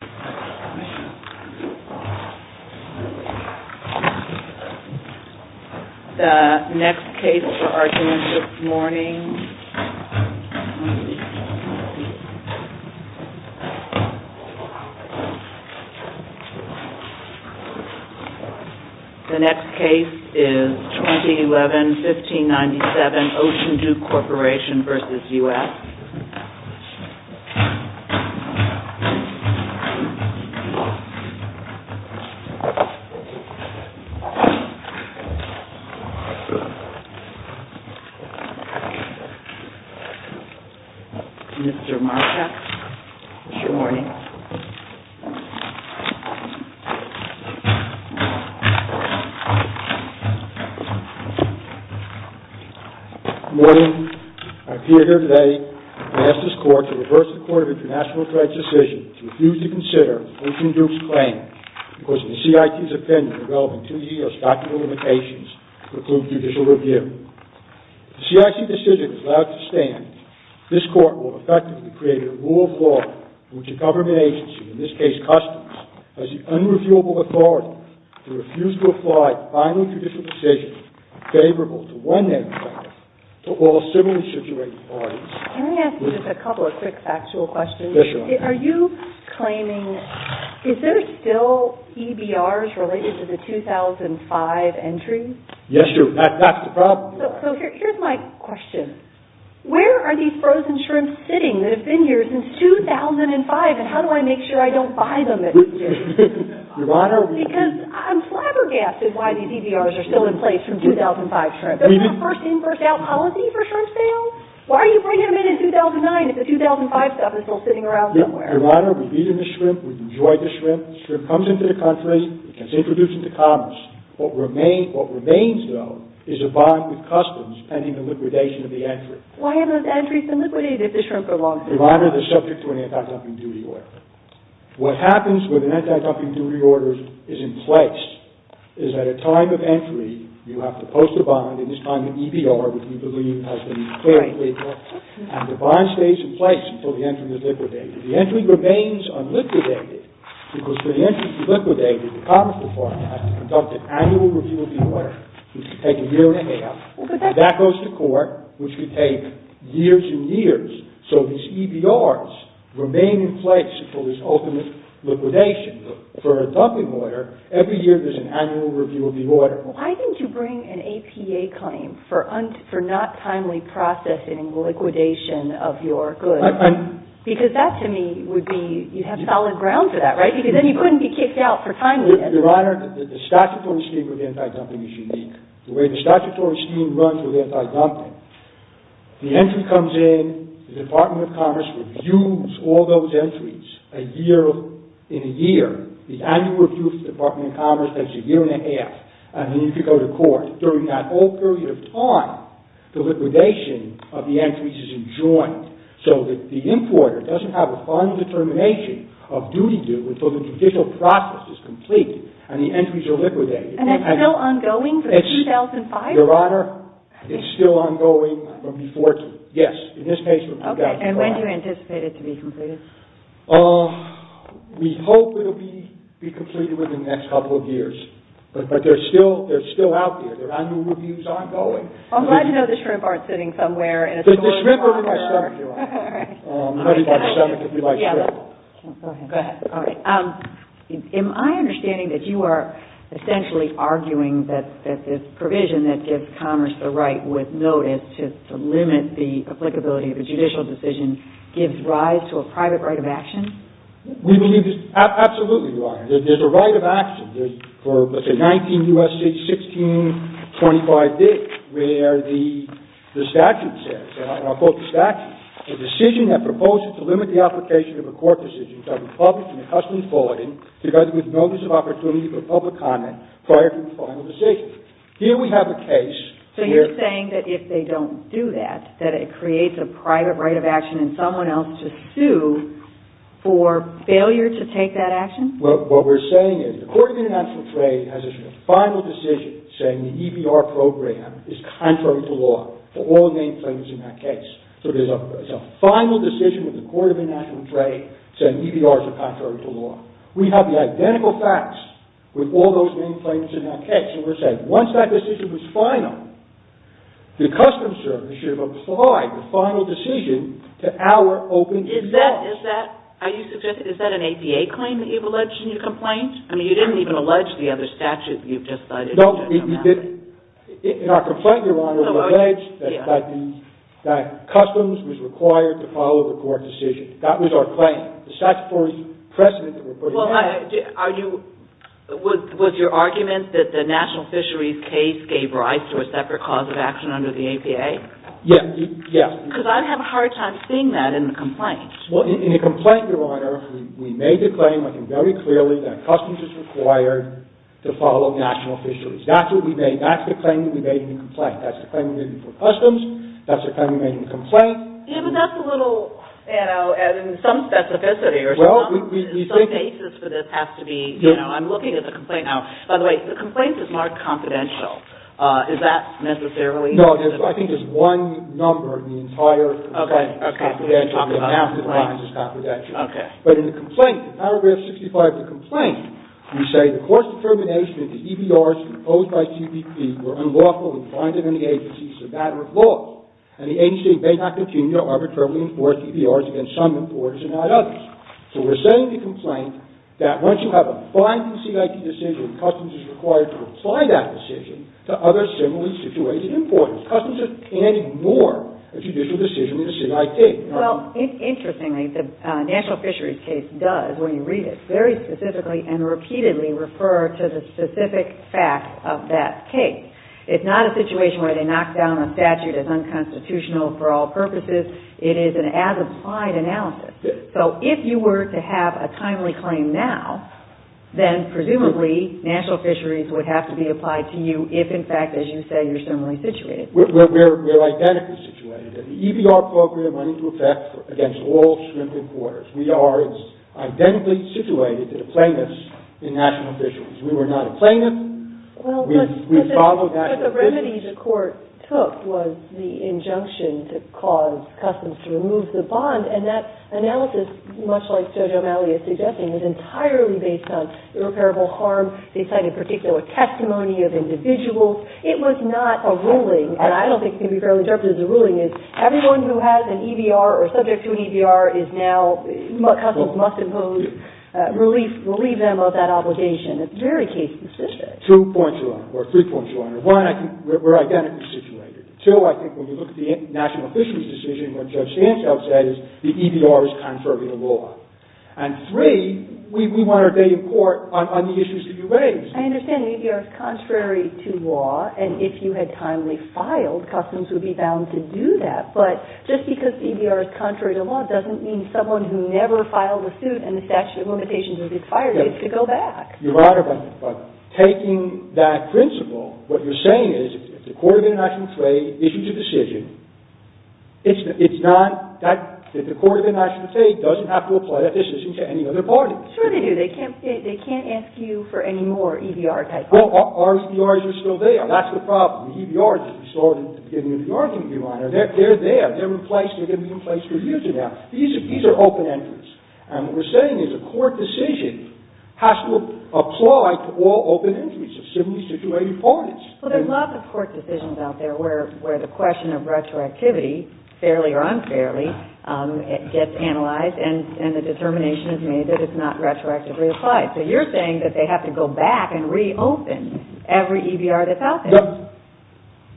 The next case for argument this morning, the next case is 2011-1597 OCEAN DUKE CORPORATION v. United States v. United States Can I ask you just a couple of quick factual questions? Yes, Your Honor. Are you claiming, is there still EBRs related to the 2005 entry? Yes, Your Honor. That's the problem. So here's my question. Where are these frozen shrimps sitting that have been here since 2005, and how do I make sure I don't buy them at the end of the year? Your Honor. Because I'm flabbergasted why these EBRs are still in place from 2005 shrimp. Isn't that a first-in-first-out policy for shrimp sales? Why are you bringing them in in 2009 if the 2005 stuff is still sitting around somewhere? Your Honor, we've eaten the shrimp, we've enjoyed the shrimp. The shrimp comes into the country, it gets introduced into commerce. What remains, though, is a bond with customs pending the liquidation of the entry. Why haven't those entries been liquidated if the shrimp are long-standing? Your Honor, they're subject to an anti-dumping duty order. What happens when an anti-dumping duty order is in place is at a time of entry, you have to post a bond, and this time an EBR, which we believe has to be fairly clear, and the bond stays in place until the entry is liquidated. The entry remains unliquidated because for the entry to be liquidated, the Commerce Department has to conduct an annual review of the order, which could take a year and a half, and that goes to court, which could take years and years. So these EBRs remain in place for this ultimate liquidation. For a dumping order, every year there's an annual review of the order. Why didn't you bring an APA claim for not timely processing and liquidation of your goods? Because that, to me, would be, you'd have solid ground for that, right? Because then you couldn't be kicked out for timely. Your Honor, the statutory scheme of anti-dumping is unique. The way the statutory scheme runs with anti-dumping, the entry comes in, the Department of Commerce reviews all those entries in a year. The annual review of the Department of Commerce takes a year and a half, and then you can go to court. During that whole period of time, the liquidation of the entries is enjoined, so that the importer doesn't have a final determination of duty due until the judicial process is complete and the entries are liquidated. And it's still ongoing from 2005? Your Honor, it's still ongoing from 2014. Yes, in this case from 2005. And when do you anticipate it to be completed? We hope it will be completed within the next couple of years. But they're still out there. Their annual review is ongoing. I'm glad to know the shrimp aren't sitting somewhere in a secure locker. The shrimp are in my stomach, Your Honor. I'm going to eat my stomach if you like shrimp. Go ahead. Am I understanding that you are essentially arguing that this provision that gives commerce the right with notice to limit the applicability of a judicial decision gives rise to a private right of action? Absolutely, Your Honor. There's a right of action for, let's say, 19 U.S. states, 1625 days, where the statute says, and I'll quote the statute, Here we have a case. So you're saying that if they don't do that, that it creates a private right of action in someone else to sue for failure to take that action? What we're saying is the Court of International Trade has issued a final decision saying the EBR program is contrary to law for all name claims in that case. So there's a final decision with the Court of International Trade saying EBR is contrary to law. We have the identical facts with all those name claims in that case. And we're saying once that decision was final, the customs service should have applied the final decision to our open defense. Is that an APA claim that you've alleged in your complaint? I mean, you didn't even allege the other statutes you've just cited. No, we didn't. In our complaint, Your Honor, we allege that customs was required to follow the court decision. That was our claim. The statutory precedent that we're putting out there. Was your argument that the National Fisheries case gave rise to a separate cause of action under the APA? Yes. Because I have a hard time seeing that in the complaint. Well, in the complaint, Your Honor, we made the claim very clearly that customs is required to follow National Fisheries. That's what we made. That's the claim that we made in the complaint. That's the claim we made for customs. That's the claim we made in the complaint. Yeah, but that's a little, you know, in some specificity or some basis for this has to be, you know, I'm looking at the complaint. Now, by the way, the complaint is marked confidential. Is that necessarily? No, I think there's one number in the entire complaint that's confidential. Okay. Okay. But in the complaint, in paragraph 65 of the complaint, we say, The court's determination that the EBRs imposed by CBP were unlawful and find it in the agency is a matter of law. And the agency may not continue to arbitrarily enforce EBRs against some importers and not others. So we're saying in the complaint that once you have a binding CIT decision, customs is required to apply that decision to other similarly situated importers. Customs can't ignore a judicial decision in a CIT. Well, interestingly, the National Fisheries case does, when you read it, very specifically and repeatedly refer to the specific facts of that case. It's not a situation where they knock down a statute as unconstitutional for all purposes. It is an as-applied analysis. So if you were to have a timely claim now, then presumably National Fisheries would have to be applied to you if, in fact, as you say, you're similarly situated. We're identically situated. The EBR program went into effect against all shrimp importers. We are identically situated to the plaintiffs in National Fisheries. We were not a plaintiff. We followed that. But the remedies the court took was the injunction to cause customs to remove the bond. And that analysis, much like Judge O'Malley is suggesting, was entirely based on irreparable harm. They cited particular testimony of individuals. It was not a ruling. And I don't think it can be fairly interpreted as a ruling. It's everyone who has an EBR or is subject to an EBR is now customs must impose relief of that obligation. It's very case specific. Two points to learn, or three points to learn. One, I think we're identically situated. Two, I think when we look at the National Fisheries decision, what Judge Stanchow said is the EBR is contrary to law. And three, we want our day in court on the issues to be raised. I understand the EBR is contrary to law. And if you had timely filed, customs would be bound to do that. But just because the EBR is contrary to law doesn't mean someone who never filed a suit and the statute of limitations was expired needs to go back. Your Honor, by taking that principle, what you're saying is if the Court of International Trade issues a decision, it's not that the Court of International Trade doesn't have to apply that decision to any other party. Sure they do. They can't ask you for any more EBR type arguments. Well, our EBRs are still there. That's the problem. The EBRs that we saw at the beginning of the argument, Your Honor, they're there. They're in place. They're going to be in place for years from now. These are open entries. And what we're saying is a court decision has to apply to all open entries of civilly situated parties. Well, there's lots of court decisions out there where the question of retroactivity, fairly or unfairly, gets analyzed and the determination is made that it's not retroactively applied. So you're saying that they have to go back and reopen every EBR that's out there.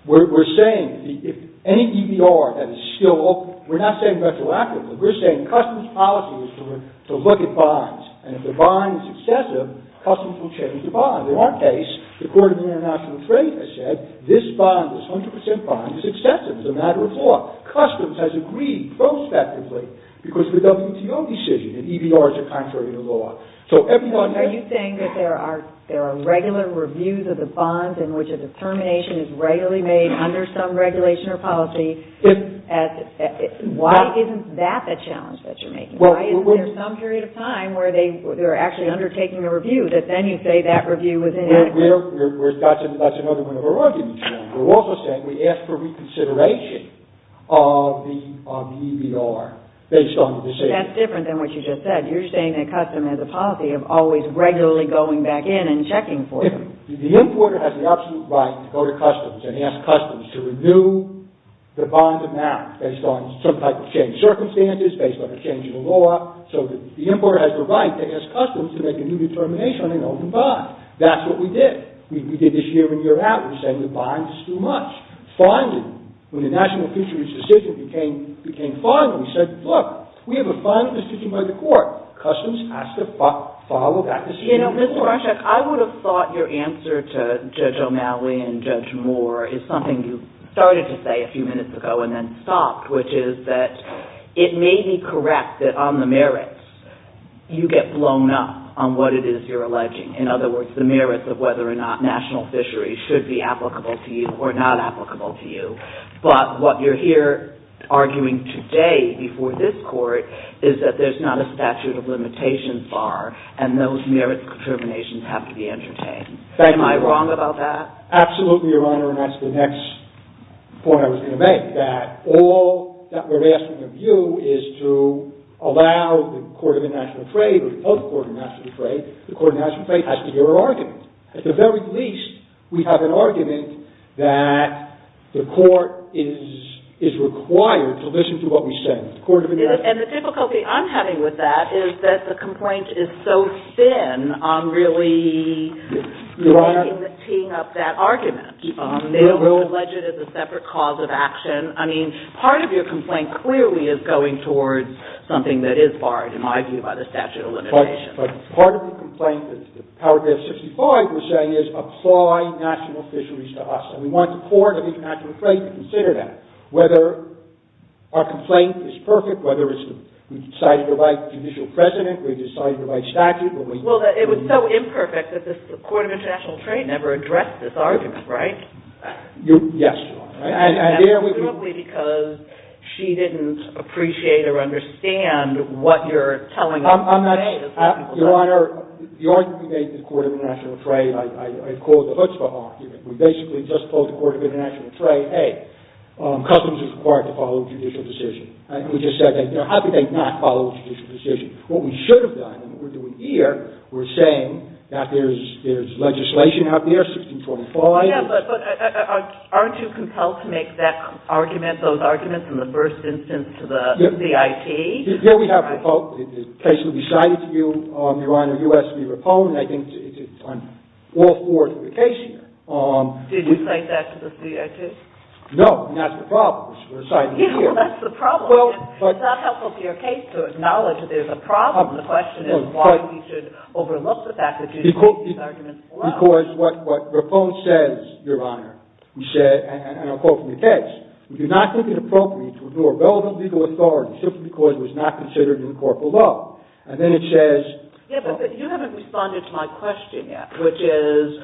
We're saying if any EBR that is still open, we're not saying retroactively. We're saying customs policy is to look at bonds. And if the bond is excessive, customs will change the bond. In our case, the Court of International Trade has said this bond, this 100% bond, is excessive. It's a matter of law. Customs has agreed prospectively because of the WTO decision that EBRs are contrary to law. Are you saying that there are regular reviews of the bonds in which a determination is regularly made under some regulation or policy? Why isn't that the challenge that you're making? Why isn't there some period of time where they're actually undertaking a review that then you say that review was inadequate? That's another one of our arguments. We're also saying we ask for reconsideration of the EBR based on the decision. That's different than what you just said. You're saying that customs has a policy of always regularly going back in and checking for them. The importer has the absolute right to go to customs and ask customs to renew the bonds of marriage based on some type of changed circumstances, based on a change in the law. So the importer has the right to ask customs to make a new determination on an open bond. That's what we did. We did this year in, year out. We're saying the bond is too much. Finally, when the national fisheries decision became final, we said, look, we have a final decision by the court. Customs has to follow that decision. You know, Mr. Marshak, I would have thought your answer to Judge O'Malley and Judge Moore is something you started to say a few minutes ago and then stopped, which is that it may be correct that on the merits, you get blown up on what it is you're alleging. In other words, the merits of whether or not national fisheries should be applicable to you or not applicable to you. But what you're here arguing today before this court is that there's not a statute of limitations bar, and those merits determinations have to be entertained. Am I wrong about that? Absolutely, Your Honor, and that's the next point I was going to make. I think that all that we're asking of you is to allow the court of international trade or the post-court of international trade, the court of international trade has to hear our argument. At the very least, we have an argument that the court is required to listen to what we say. And the difficulty I'm having with that is that the complaint is so thin on really teeing up that argument. They allege it as a separate cause of action. I mean, part of your complaint clearly is going towards something that is barred, in my view, by the statute of limitations. But part of the complaint that paragraph 65 was saying is apply national fisheries to us. And we want the court of international trade to consider that. Whether our complaint is perfect, whether we've decided to write judicial precedent, we've decided to write statute. Well, it was so imperfect that the court of international trade never addressed this argument, right? Yes, Your Honor. And that's literally because she didn't appreciate or understand what you're telling us today. Your Honor, the argument we made to the court of international trade, I call it the chutzpah argument. We basically just told the court of international trade, hey, customs is required to follow judicial decision. And we just said, how can they not follow judicial decision? What we should have done and what we're doing here, we're saying that there's legislation out there, 1625. Yeah, but aren't you compelled to make that argument, those arguments, in the first instance to the CIT? Here we have the case that will be cited to you, Your Honor. You asked me for a poem, and I think it's on all four of the cases. Did you cite that to the CIT? No, and that's the problem. We're citing it here. Yeah, well, that's the problem. It's not helpful for your case to acknowledge that there's a problem. The question is why we should overlook the fact that you cite these arguments below. Because what Raphone says, Your Honor, and I'll quote from the text, we do not think it appropriate to ignore relevant legal authority simply because it was not considered in the court below. And then it says – Yeah, but you haven't responded to my question yet, which is,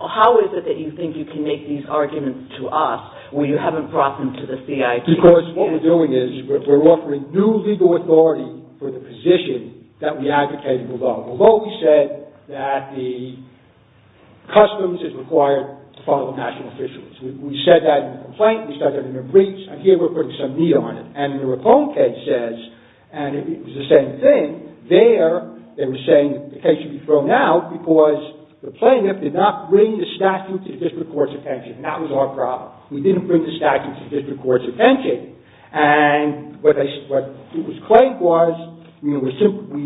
how is it that you think you can make these arguments to us when you haven't brought them to the CIT? Because what we're doing is we're offering new legal authority for the position that we advocated below. Below we said that the customs is required to follow national officials. We said that in the complaint, we said that in the breach, and here we're putting some knee on it. And the Raphone case says, and it was the same thing, there they were saying the case should be thrown out because the plaintiff did not bring the statute to the district court's attention. That was our problem. We didn't bring the statute to the district court's attention. And what was claimed was, we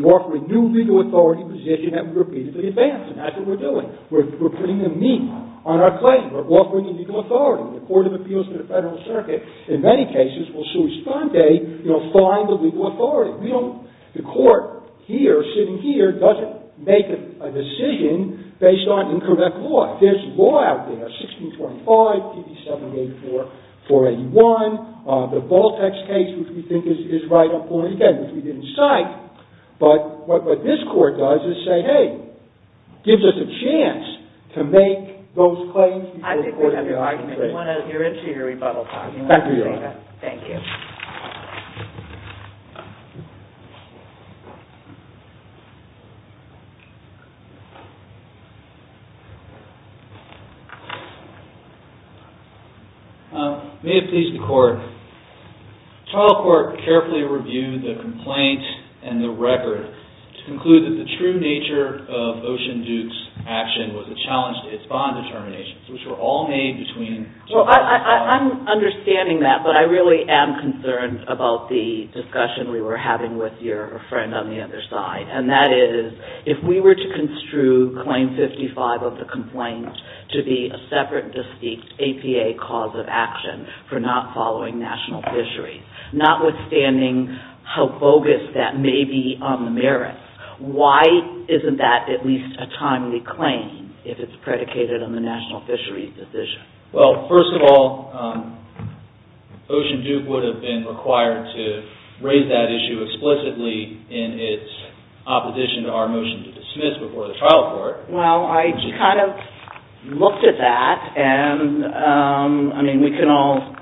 offer a new legal authority position that we repeatedly advance, and that's what we're doing. We're putting the knee on our claim. We're offering the legal authority. The Court of Appeals to the Federal Circuit, in many cases, will soon as Sunday find the legal authority. The court here, sitting here, doesn't make a decision based on incorrect law. There's law out there, 1625, 5784, 481, the Baltex case, which we think is right on point, again, which we didn't cite, but what this court does is say, hey, gives us a chance to make those claims before the Court of the Argument. I think we have your argument. We want to hear it to your rebuttal time. Thank you, Your Honor. Thank you. May it please the Court, the trial court carefully reviewed the complaint and the record to conclude that the true nature of Ocean Duke's action was a challenge to its bond determinations, which were all made between Well, I'm understanding that, but I really am concerned about the discussion we were having with your friend on the other side, and that is, if we were to construe Claim 55 of the complaint to be a separate, distinct APA cause of action for not following national fisheries, notwithstanding how bogus that may be on the merits, why isn't that at least a timely claim if it's predicated on the national fisheries decision? Well, first of all, Ocean Duke would have been required to raise that issue explicitly in its opposition to our motion to dismiss before the trial court. Well, I kind of looked at that, and I mean, we can all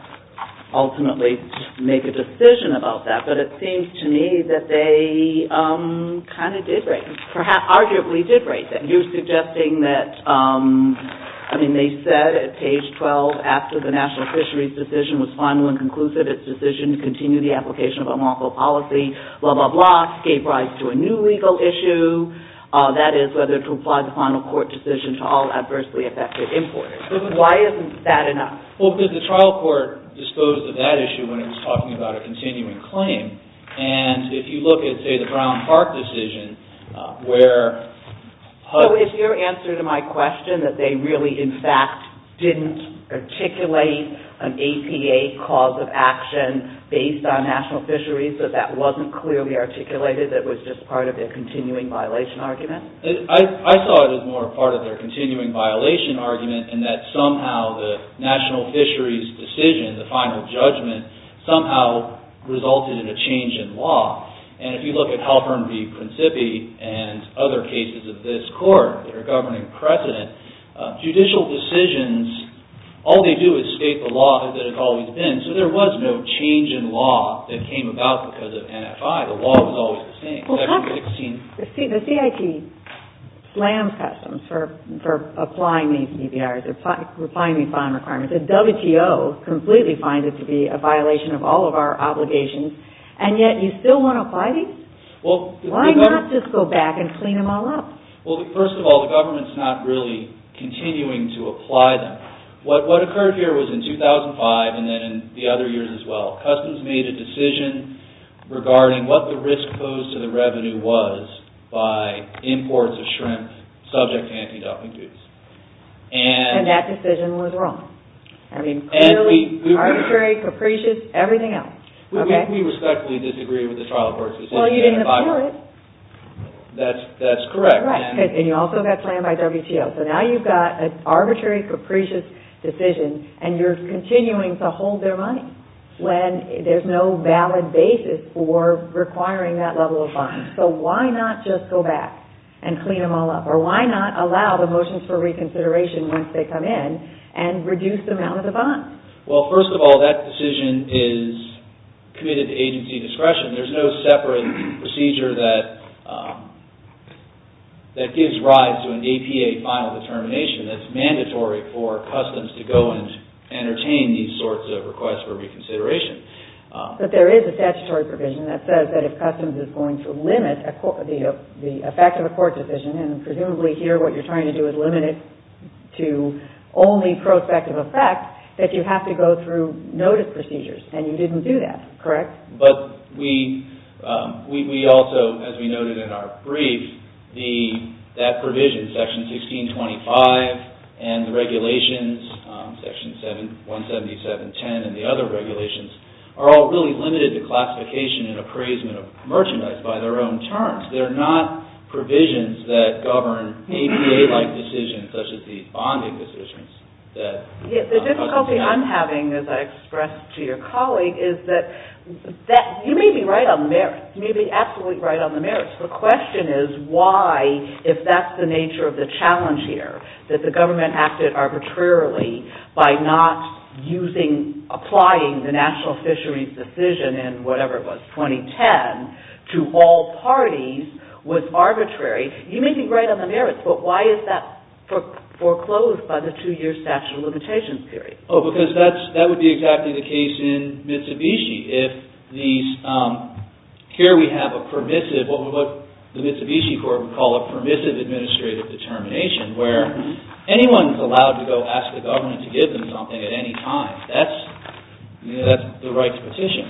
ultimately make a decision about that, but it seems to me that they kind of did raise it, perhaps arguably did raise it. You're suggesting that, I mean, they said at page 12, after the national fisheries decision was final and conclusive, its decision to continue the application of unlawful policy, blah, blah, blah, gave rise to a new legal issue, that is, whether to apply the final court decision to all adversely affected importers. Why isn't that enough? Well, because the trial court disposed of that issue when it was talking about a continuing claim, and if you look at, say, the Brown Park decision, where... So is your answer to my question that they really, in fact, didn't articulate an APA cause of action based on national fisheries, that that wasn't clearly articulated, that it was just part of their continuing violation argument? I saw it as more a part of their continuing violation argument, and that somehow the national fisheries decision, the final judgment, somehow resulted in a change in law, and if you look at Halpern v. Principi and other cases of this court that are governing precedent, judicial decisions, all they do is state the law as it had always been, so there was no change in law that came about because of NFI. The law was always the same. The CIT slams Customs for applying these EBRs, applying these final requirements. The WTO completely finds it to be a violation of all of our obligations, and yet you still want to apply these? Why not just go back and clean them all up? Well, first of all, the government's not really continuing to apply them. What occurred here was in 2005 and then in the other years as well. Customs made a decision regarding what the risk posed to the revenue was by imports of shrimp subject to anti-dumping duties. And that decision was wrong. I mean, clearly, arbitrary, capricious, everything else. We respectfully disagree with the trial court's decision. Well, you didn't appear it. That's correct. Right, and you also got slammed by WTO, so now you've got an arbitrary, capricious decision, and you're continuing to hold their money when there's no valid basis for requiring that level of bond. So why not just go back and clean them all up? Or why not allow the motions for reconsideration once they come in and reduce the amount of the bond? Well, first of all, that decision is committed to agency discretion. There's no separate procedure that gives rise to an APA final determination that's mandatory for Customs to go and entertain these sorts of requests for reconsideration. But there is a statutory provision that says that if Customs is going to limit the effect of a court decision, and presumably here what you're trying to do is limit it to only prospective effect, that you have to go through notice procedures, and you didn't do that, correct? But we also, as we noted in our brief, that provision, Section 1625, and the regulations, Section 177.10, and the other regulations, are all really limited to classification and appraisement of merchandise by their own terms. They're not provisions that govern APA-like decisions, such as these bonding decisions. The difficulty I'm having, as I expressed to your colleague, is that you may be right on the merits. You may be absolutely right on the merits. The question is why, if that's the nature of the challenge here, that the government acted arbitrarily by not applying the National Fisheries Decision in whatever it was, 2010, to all parties, was arbitrary. You may be right on the merits, but why is that foreclosed by the two-year statute of limitations period? Oh, because that would be exactly the case in Mitsubishi. Here we have a permissive, what the Mitsubishi Court would call a permissive administrative determination, where anyone is allowed to go ask the government to give them something at any time. That's the right petition.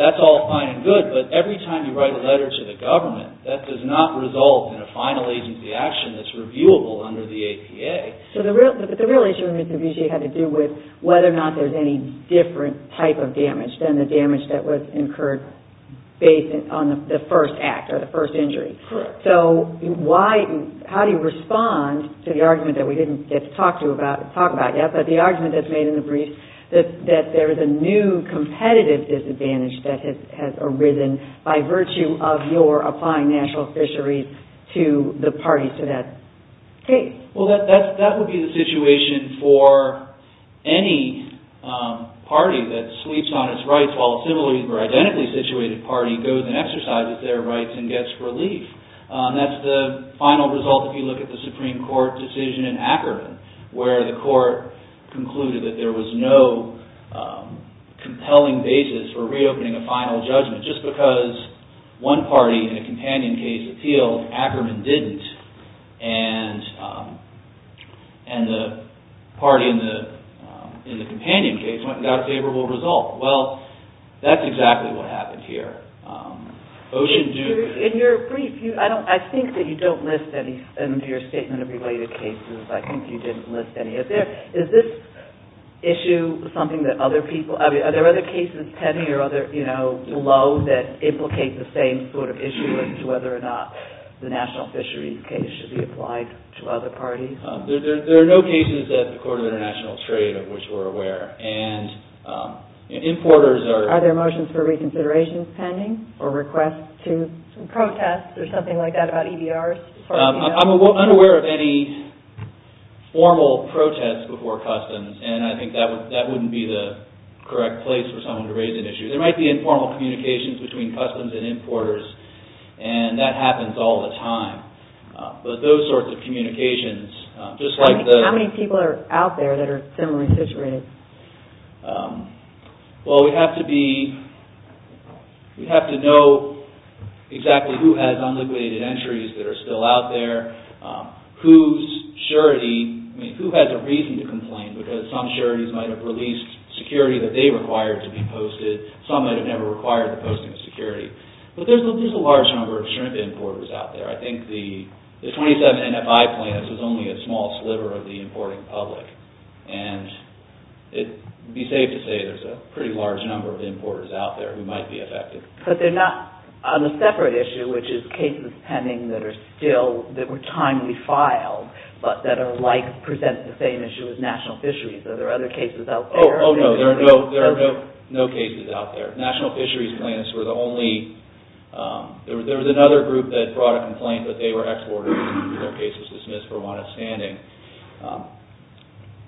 That's all fine and good, but every time you write a letter to the government, that does not result in a final agency action that's reviewable under the APA. The real issue with Mitsubishi had to do with whether or not there's any different type of damage than the damage that was incurred based on the first act or the first injury. Correct. How do you respond to the argument that we didn't talk about yet, but the argument that's made in the brief, that there is a new competitive disadvantage that has arisen by virtue of your applying National Fisheries to the parties to that case? Well, that would be the situation for any party that sweeps on its rights, while a similarly or identically situated party goes and exercises their rights and gets relief. That's the final result if you look at the Supreme Court decision in Akron, where the court concluded that there was no compelling basis for reopening a final judgment. Just because one party in a companion case appealed, Ackerman didn't, and the party in the companion case went and got a favorable result. Well, that's exactly what happened here. In your brief, I think that you don't list any under your statement of related cases. I think you didn't list any of them. Is this issue something that other people have? Are there other cases pending or below that implicate the same sort of issue as to whether or not the National Fisheries case should be applied to other parties? There are no cases at the Court of International Trade of which we're aware, and importers are— Are there motions for reconsiderations pending or requests to protest or something like that about EBRs? I'm unaware of any formal protest before customs, and I think that wouldn't be the correct place for someone to raise an issue. There might be informal communications between customs and importers, and that happens all the time. But those sorts of communications, just like the— How many people are out there that are similarly situated? Well, we'd have to be—we'd have to know exactly who has unliquidated entries that are still out there, whose surety—I mean, who has a reason to complain, because some sureties might have released security that they required to be posted. Some might have never required the posting of security. But there's a large number of shrimp importers out there. I think the 27 NFI plans is only a small sliver of the importing public, and it would be safe to say there's a pretty large number of importers out there who might be affected. But they're not on a separate issue, which is cases pending that are still—that were timely filed, but that are like—present the same issue as national fisheries. Are there other cases out there? Oh, no, there are no cases out there. National fisheries plans were the only— There was another group that brought a complaint that they were exporters, and their case was dismissed for one outstanding.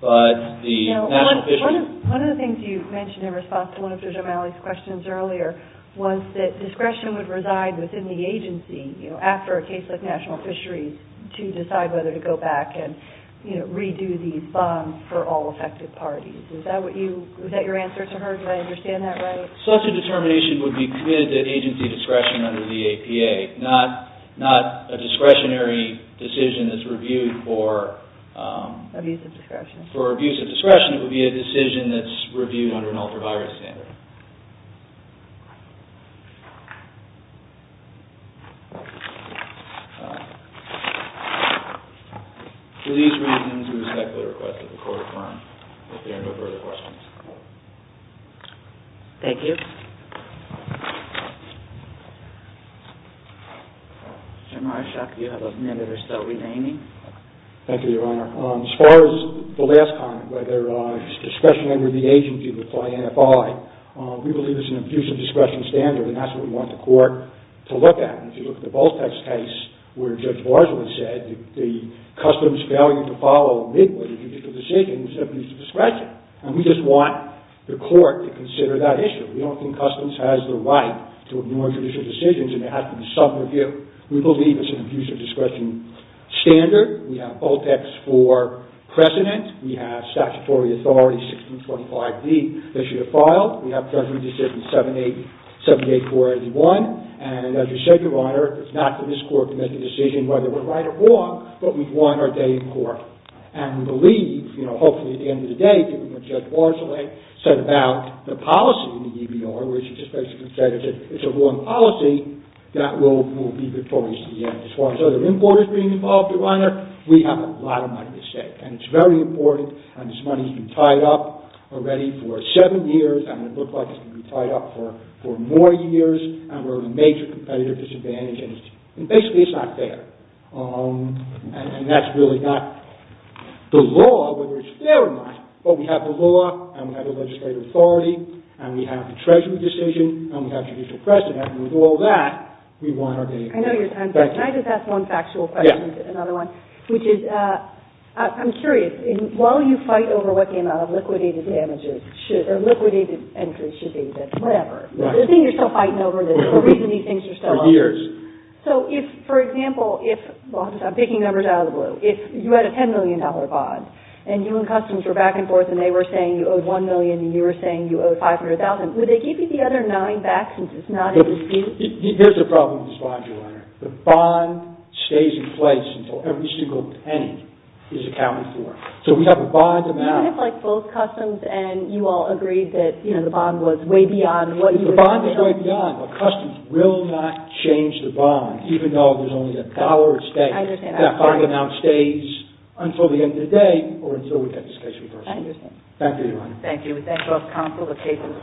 But the national fisheries— Now, one of the things you mentioned in response to one of Judge O'Malley's questions earlier was that discretion would reside within the agency, you know, after a case like national fisheries, to decide whether to go back and, you know, redo these bonds for all affected parties. Is that what you—was that your answer to her? Did I understand that right? Such a determination would be committed to agency discretion under the APA, not a discretionary decision that's reviewed for— Abuse of discretion. For abuse of discretion, it would be a decision that's reviewed under an ultraviolet standard. For these reasons, we respectfully request that the Court affirm that there are no further questions. Thank you. General Arshak, you have a minute or so remaining. Thank you, Your Honor. As far as the last comment, whether it's discretion under the agency to apply NFI, we believe it's an abuse of discretion standard, and that's what we want the Court to look at. If you look at the Volpex case where Judge Barzila said that the customs failure to follow a midway judicial decision is an abuse of discretion, and we just want the Court to consider that issue. We don't think customs has the right to ignore judicial decisions, and it has to be self-reviewed. We believe it's an abuse of discretion standard. We have Volpex for precedent. We have statutory authority 1625d that should have filed. We have judgment decision 78481. And as you said, Your Honor, it's not for this Court to make a decision whether we're right or wrong, but we want our day in court. And we believe, you know, hopefully at the end of the day, when Judge Barzila said about the policy in the EBR, where he just basically said it's a wrong policy, that will be victorious at the end. As far as other importers being involved, Your Honor, we have a lot of money at stake, and it's very important, and this money has been tied up already for seven years, and it looks like it's going to be tied up for more years, and we're at a major competitive disadvantage, and basically it's not fair. And that's really not the law, whether it's fair or not. But we have the law, and we have the legislative authority, and we have the judgment decision, and we have judicial precedent, and with all that, we want our day in court. Thank you. Can I just ask one factual question, another one? Yeah. Which is, I'm curious, while you fight over what the amount of liquidated damages should, or liquidated entries should be, whatever, the thing you're still fighting over is the reason these things are still on the books. For years. So if, for example, if, well, I'm just picking numbers out of the blue, if you had a $10 million bond, and you and Customs were back and forth, and they were saying you owed $1 million, and you were saying you owed $500,000, would they give you the other nine back since it's not a dispute? Here's the problem with this bond, Your Honor. The bond stays in place until every single penny is accounted for. So we have a bond amount. Even if, like, both Customs and you all agreed that, you know, the bond was way beyond what you had agreed on? The bond is way beyond, but Customs will not change the bond, even though there's only a dollar at stake. I understand. That bond amount stays until the end of the day, or until we get this case reversed. I understand. Thank you, Your Honor. Thank you. We thank both counsel, the case is submitted.